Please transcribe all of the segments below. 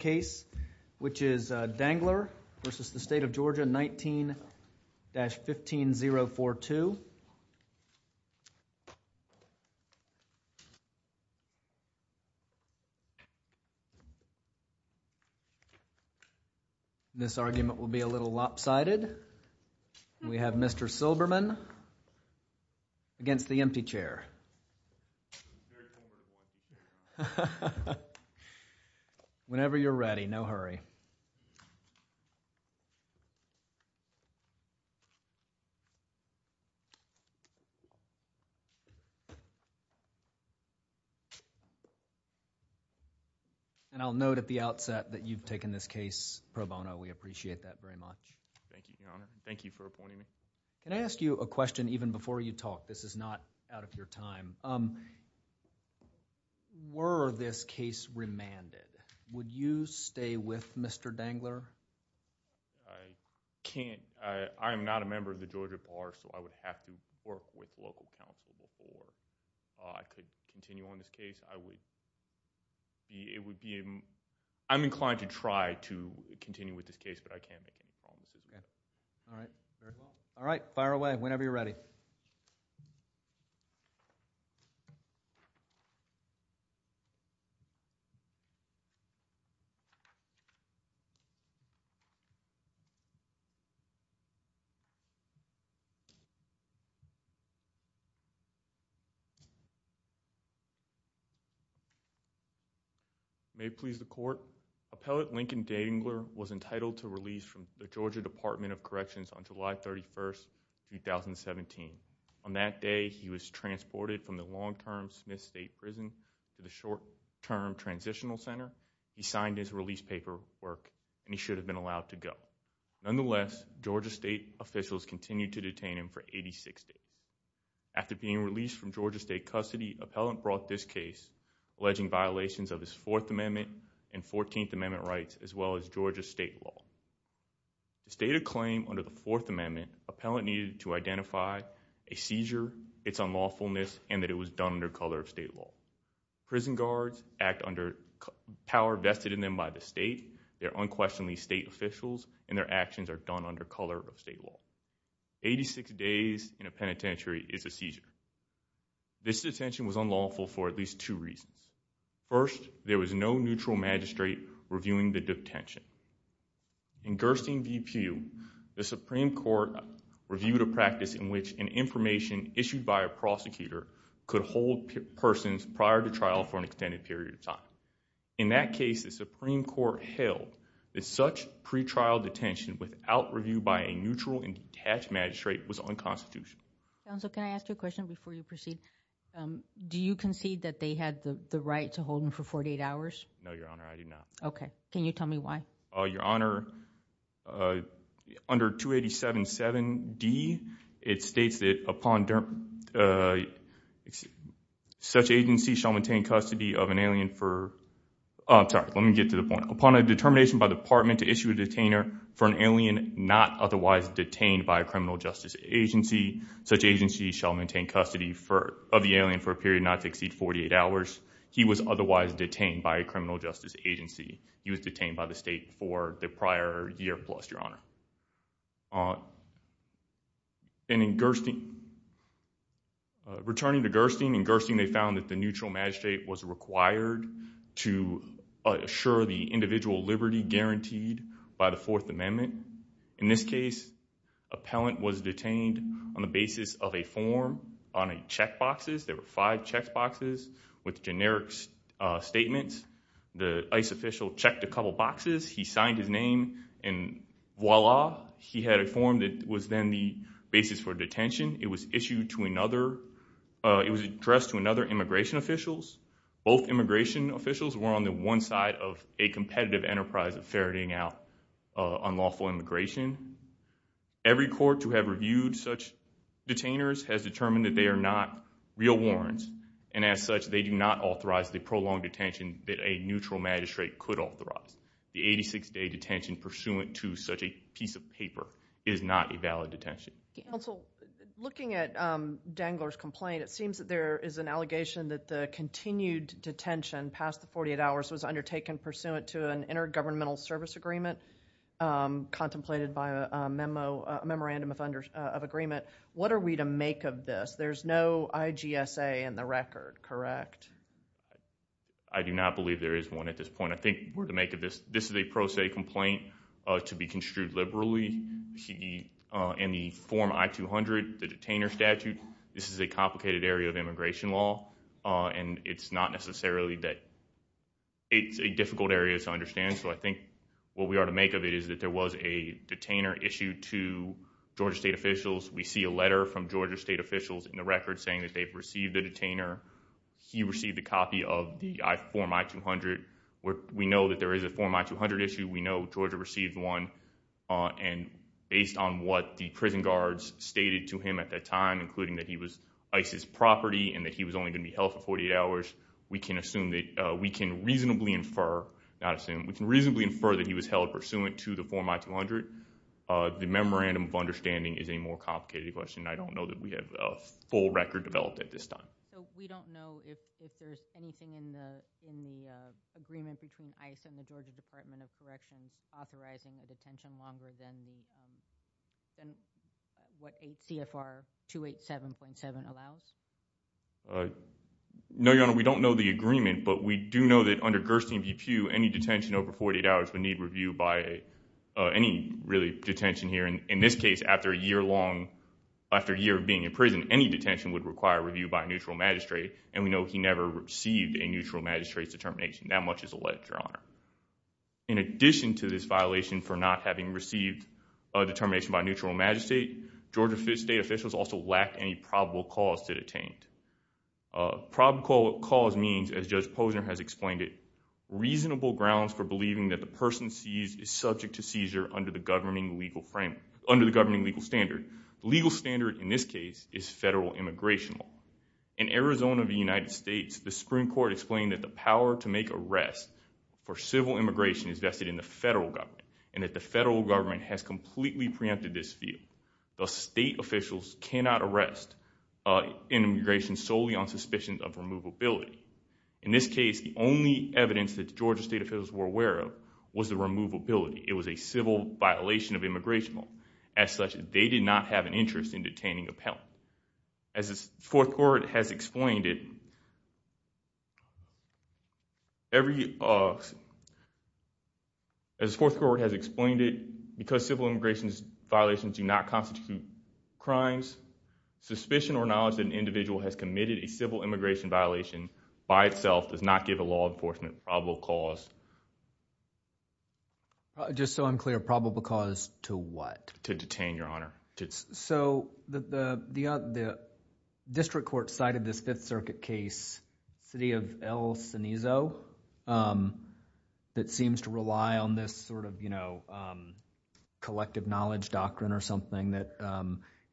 case, which is Danglar v. State of Georgia 19-15042. This argument will be a little lopsided. And we have Mr. Silberman against the empty chair. Whenever you're ready, no hurry. And I'll note at the outset that you've taken this case pro bono. We appreciate that very much. Thank you, Your Honor. Thank you for appointing me. Can I ask you a question even before you talk? This is not out of your time. Were this case remanded? Would you stay with Mr. Danglar? I can't. I am not a member of the Georgia Bar, so I would have to work with local counsel before I could continue on this case. I would be... it would be... I'm inclined to try to continue with this case, but I can't make any promises. All right. Fire away, whenever you're ready. May it please the Court, Appellate Lincoln Danglar was entitled to release from the Georgia Department of Corrections on July 31st, 2017. On that day, he was transported from the long-term Smith State Prison to the short-term Transitional Center. He signed his release paperwork, and he should have been allowed to go. Nonetheless, Georgia State officials continued to detain him for 86 days. After being released from Georgia State custody, Appellant brought this case alleging violations of his Fourth Amendment and Fourteenth Amendment rights, as well as Georgia State law. To state a claim under the Fourth Amendment, Appellant needed to identify a seizure, its unlawfulness, and that it was done under color of State law. Prison guards act under power vested in them by the State. They are unquestionably State officials, and their actions are done under color of State law. Eighty-six days in a penitentiary is a seizure. This detention was unlawful for at least two reasons. First, there was no neutral magistrate reviewing the detention. In Gerstein v. Pugh, the Supreme Court reviewed a practice in which an information issued by a prosecutor could hold persons prior to trial for an extended period of time. In that case, the Supreme Court held that such pretrial detention without review by a neutral and detached magistrate was unconstitutional. Counsel, can I ask you a question before you proceed? Do you concede that they had the right to hold him for 48 hours? No, Your Honor, I do not. Okay. Can you tell me why? Your Honor, under 287.7d, it states that upon such agency shall maintain custody of an alien for, sorry, let me get to the point. Upon a determination by the department to issue a detainer for an alien not otherwise detained by a criminal justice agency, such agency shall maintain custody of the alien for a period not to exceed 48 hours. He was otherwise detained by a criminal justice agency. He was detained by the State for the prior year plus, Your Honor. And in Gerstein, returning to Gerstein, in Gerstein they found that the neutral magistrate was required to assure the individual liberty guaranteed by the Fourth Amendment. In this case, appellant was detained on the basis of a form on a checkboxes. There were five checkboxes with generic statements. The ICE official checked a couple boxes. He signed his name and voila, he had a form that was then the basis for detention. It was issued to another, it was addressed to another immigration officials. Both immigration officials were on the one side of a competitive enterprise of ferreting out unlawful immigration. Every court to have reviewed such detainers has determined that they are not real warrants and as such they do not authorize the prolonged detention that a neutral magistrate could authorize. The 86-day detention pursuant to such a piece of paper is not a valid detention. Counsel, looking at Dangler's complaint, it seems that there is an allegation that the continued detention past the 48 hours was undertaken pursuant to an intergovernmental service agreement contemplated by a memo, a memorandum of agreement. What are we to make of this? There's no IGSA in the record, correct? I do not believe there is one at this point. I think we're to make of this, this is a pro issued liberally in the Form I-200, the detainer statute. This is a complicated area of immigration law and it's not necessarily that it's a difficult area to understand. So I think what we are to make of it is that there was a detainer issued to Georgia state officials. We see a letter from Georgia state officials in the record saying that they've received a detainer. He received a copy of the Form I-200. We know that there is a Form I-200 issue. We know that, and based on what the prison guards stated to him at that time, including that he was ICE's property and that he was only going to be held for 48 hours, we can reasonably infer that he was held pursuant to the Form I-200. The memorandum of understanding is a more complicated question. I don't know that we have a full record developed at this time. So we don't know if there's anything in the agreement between ICE and the Georgia Department of Corrections authorizing a detention longer than what CFR 287.7 allows? No, Your Honor, we don't know the agreement, but we do know that under Gerstein v. Pugh, any detention over 48 hours would need review by any really detention here. In this case, after a year of being in prison, any detention would require review by a neutral magistrate, and we know he never received a neutral magistrate's determination, that much is alleged, Your Honor. In addition to this violation for not having received a determination by a neutral magistrate, Georgia state officials also lacked any probable cause to detain. Probable cause means, as Judge Posner has explained it, reasonable grounds for believing that the person seized is subject to seizure under the governing legal framework, under the governing legal standard. The legal standard in this case is federal immigration law. In Arizona v. United States, the Supreme Court explained that the power to make arrests for civil immigration is vested in the federal government, and that the federal government has completely preempted this field. Thus, state officials cannot arrest an immigration solely on suspicions of removability. In this case, the only evidence that Georgia state officials were aware of was the removability. It was a civil violation of immigration law. As such, they did not have an interest in detaining a penitent. As the Fourth Court has explained it, because civil immigration violations do not constitute crimes, suspicion or knowledge that an individual has committed a civil immigration violation by itself does not give a law enforcement probable cause. Just so I'm clear, probable cause to what? To detain, Your Honor. So, the district court cited this Fifth Circuit case, city of El Cenizo, that seems to rely on this sort of, you know, collective knowledge doctrine or something that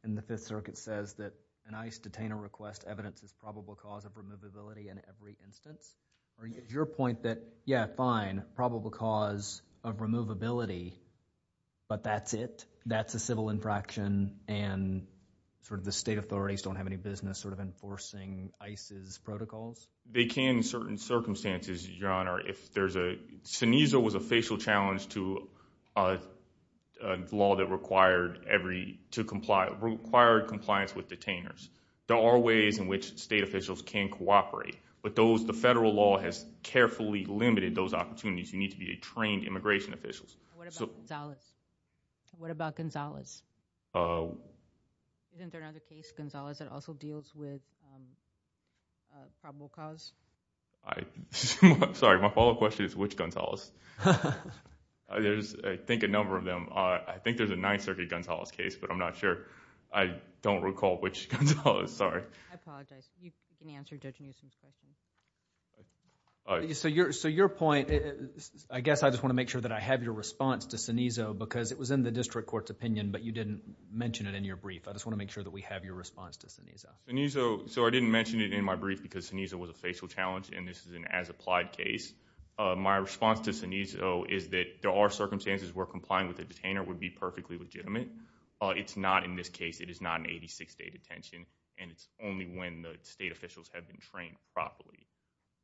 in the Fifth Circuit says that an ICE detainer requests evidence as probable cause of removability in every instance? Or is your point that, yeah, fine, probable cause of removability, but that's it? That's a civil infraction and sort of the state authorities don't have any business sort of enforcing ICE's protocols? They can in certain circumstances, Your Honor, if there's a, Cenizo was a facial challenge to a law that required every, to comply, required compliance with detainers. There are ways in which state officials can cooperate, but those, the federal law has carefully limited those opportunities. You need to be a trained immigration officials. What about Gonzalez? What about Gonzalez? Isn't there another case, Gonzalez, that also deals with probable cause? Sorry, my follow-up question is which Gonzalez? There's, I think, a number of them. I think there's a Ninth Circuit Gonzalez case, but I'm not sure. I don't recall which Gonzalez. Sorry. I apologize. You can answer Judge Newsom's question. So, your point, I guess I just want to make sure that I have your response to Cenizo because it was in the district court's opinion, but you didn't mention it in your brief. I just want to make sure that we have your response to Cenizo. Cenizo, so I didn't mention it in my brief because Cenizo was a facial challenge and this is an as-applied case. My response to Cenizo is that there are circumstances where complying with a detainer would be perfectly legitimate. It's not in this case. It is not an 86-day detention and it's only when the state officials have been trained properly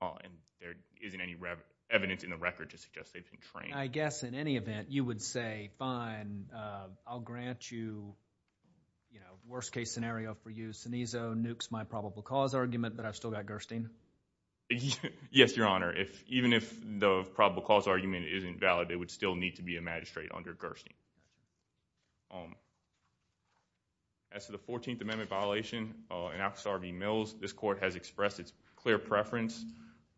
and there isn't any evidence in the record to suggest they've been trained. I guess, in any event, you would say, fine, I'll grant you, you know, worst-case scenario for you. Cenizo nukes my probable cause argument, but I've still got Gerstein. Yes, Your Honor. Even if the probable cause argument isn't valid, it would still need to be a magistrate under Gerstein. As to the 14th Amendment violation, in Alcazar v. Mills, this court has expressed its clear preference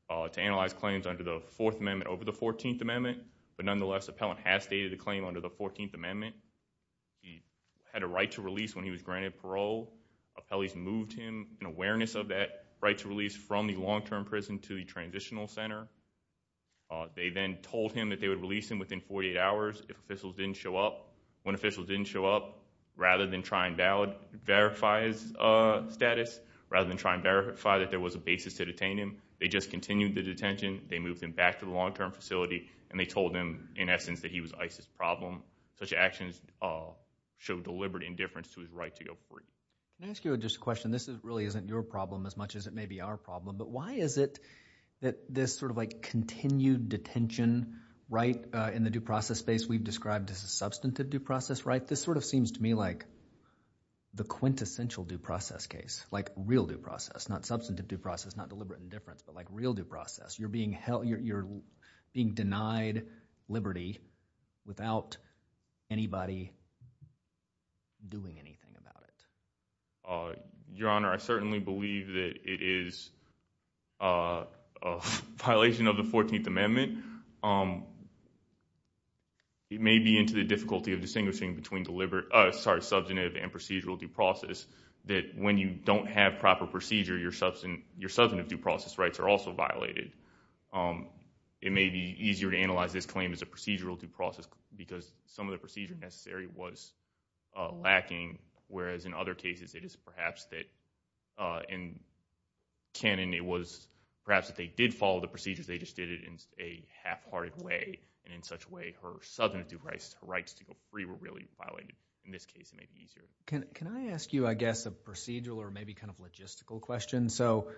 to analyze claims under the Fourth Amendment over the 14th Amendment, but nonetheless, the appellant has stated a claim under the 14th Amendment. He had a right to release when he was granted parole. Appellees moved him in awareness of that right to release from the long-term prison to the transitional center. They then told him that they would release him within 48 hours if officials didn't show up. When officials didn't show up, rather than try and verify his status, rather than try and verify that there was a basis to detain him, they just continued the detention. They moved him back to the long-term facility and they told him, in essence, that he was ICE's problem. Such actions showed deliberate indifference to his right to go free. Can I ask you just a question? This really isn't your problem as much as it may be our problem, but why is it that this sort of like continued detention right in the due process space we've described as a substantive due process right, this sort of seems to me like the quintessential due process case, like real due process, not substantive due process, not deliberate indifference, but like real due process. You're being held, you're being denied liberty without anybody doing anything about it. Your Honor, I certainly believe that it is a violation of the 14th Amendment. It may be into the difficulty of distinguishing between substantive and procedural due process that when you don't have proper procedure, your substantive due process rights are also violated. It may be easier to analyze this claim as a procedural due process because some of the perhaps that in canon it was perhaps that they did follow the procedures, they just did it in a half-hearted way, and in such a way, her substantive due process rights to go free were really violated. In this case, it may be easier. Can I ask you, I guess, a procedural or maybe kind of logistical question? So,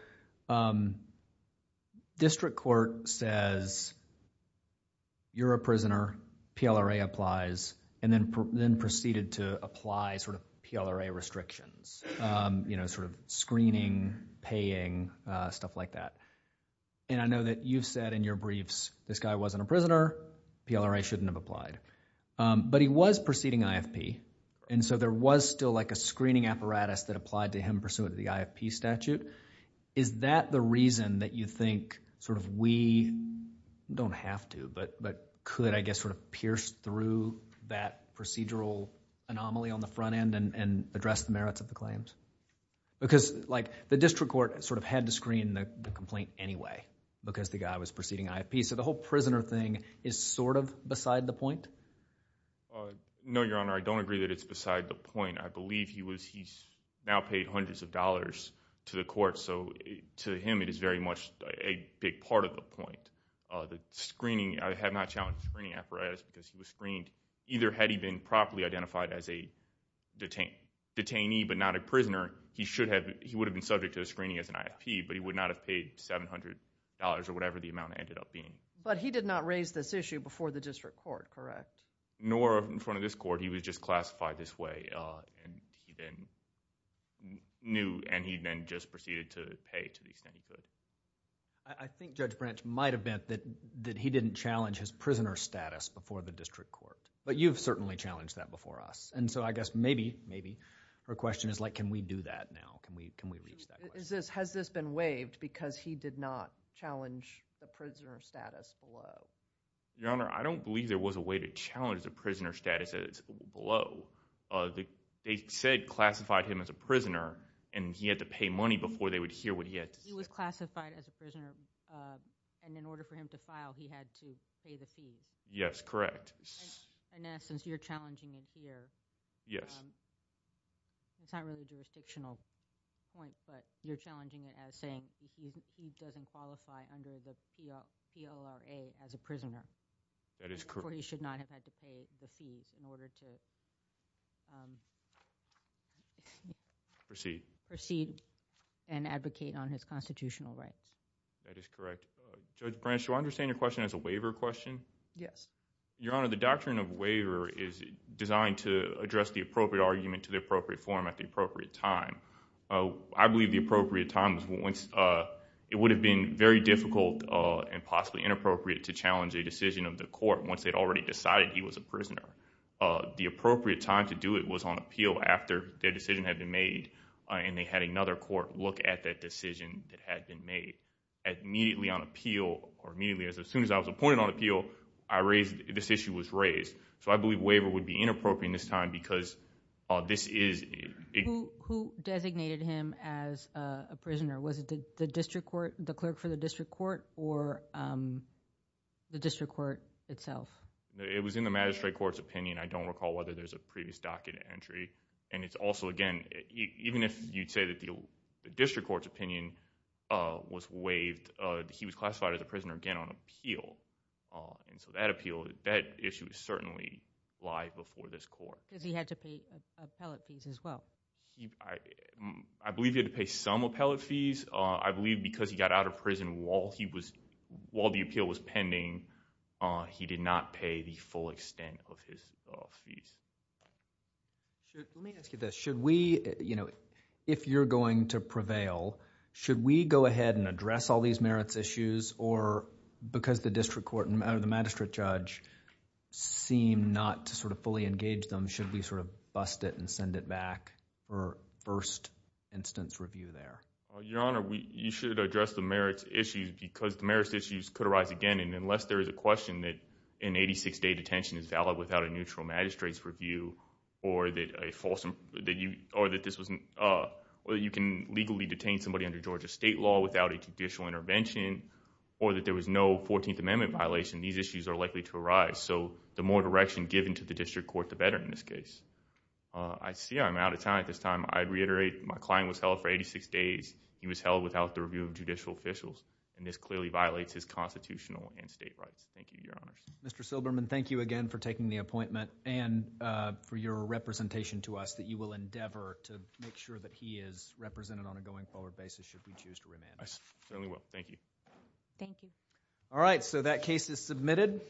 District Court says you're a prisoner, PLRA applies, and then proceeded to apply sort of PLRA restrictions. You know, sort of screening, paying, stuff like that. And I know that you've said in your briefs, this guy wasn't a prisoner, PLRA shouldn't have applied. But he was proceeding IFP, and so there was still like a screening apparatus that applied to him pursuant to the IFP statute. Is that the reason that you think sort of we don't have to, but could, I guess, sort of pierce through that procedural anomaly on the front end and address the merits of the claims? Because, like, the District Court sort of had to screen the complaint anyway because the guy was proceeding IFP. So, the whole prisoner thing is sort of beside the point? No, Your Honor, I don't agree that it's beside the point. I believe he was, he's now paid hundreds of dollars to the court, so to him it is very much a big part of the point. The screening, I have not challenged the screening apparatus because he was screened either had he been properly identified as a detainee, but not a prisoner, he should have, he would have been subject to a screening as an IFP, but he would not have paid $700 or whatever the amount ended up being. But he did not raise this issue before the District Court, correct? Nor in front of this court. He was just classified this way, and he then knew, and he then just proceeded to pay to the extent he could. I think Judge Branch might have meant that he didn't challenge his prisoner status before the District Court. But you've certainly challenged that before us, and so I guess maybe, maybe, her question is like can we do that now? Can we reach that question? Has this been waived because he did not challenge the prisoner status below? Your Honor, I don't believe there was a way to challenge the prisoner status below. They said classified him as a prisoner, and he had to pay money before they would hear what he had to say. He was classified as a prisoner, and in order for him to file, he had to pay the fees. Yes, correct. In essence, you're challenging it here. Yes. It's not really a jurisdictional point, but you're challenging it as saying he doesn't qualify under the PLRA as a prisoner. That is correct. He should not have had to pay the fees in order to proceed and advocate on his constitutional rights. That is correct. Judge Branch, do I understand your question as a waiver question? Yes. Your Honor, the Doctrine of Waiver is designed to address the appropriate argument to the appropriate form at the appropriate time. I believe the appropriate time, it would have been very difficult and possibly inappropriate to challenge a decision of the court once they had already decided he was a prisoner. The appropriate time to do it was on appeal after their decision had been made, and they had another court look at that decision that had been made. Immediately on appeal, or immediately, as soon as I was appointed on appeal, this issue was raised. I believe waiver would be inappropriate in this time because this is... Who designated him as a prisoner? Was it the district court, the clerk for the district court, or the district court itself? It was in the magistrate court's opinion. I don't recall whether there's a previous document entry, and it's also, again, even if you'd say that the district court's opinion was waived, he was classified as a prisoner again on appeal, and so that appeal, that issue is certainly live before this court. Because he had to pay appellate fees as well. I believe he had to pay some appellate fees. I believe because he got out of prison while the appeal was pending, he did not pay the full extent of his fees. Let me ask you this. If you're going to prevail, should we go ahead and address all these merits issues, or because the district court, or the magistrate judge, seem not to fully engage them, should we bust it and send it back for first instance review there? Your Honor, you should address the merits issues because the merits issues could arise again, and unless there is a question that an eighty-six day detention is valid without a neutral magistrate's review, or that you can legally detain somebody under Georgia state law without a judicial intervention, or that there was no fourteenth amendment violation, these issues are likely to arise. So, the more direction given to the district court, the better in this case. I see I'm out of time at this time. I reiterate, my client was held for eighty-six days. He was held without the review of judicial officials, and this clearly violates his constitutional and state rights. Thank you, Your Honors. Mr. Silberman, thank you again for taking the appointment, and for your representation to us that you will endeavor to make sure that he is represented on a going forward basis should we choose to remand him. I certainly will. Thank you. All right, so that case is submitted.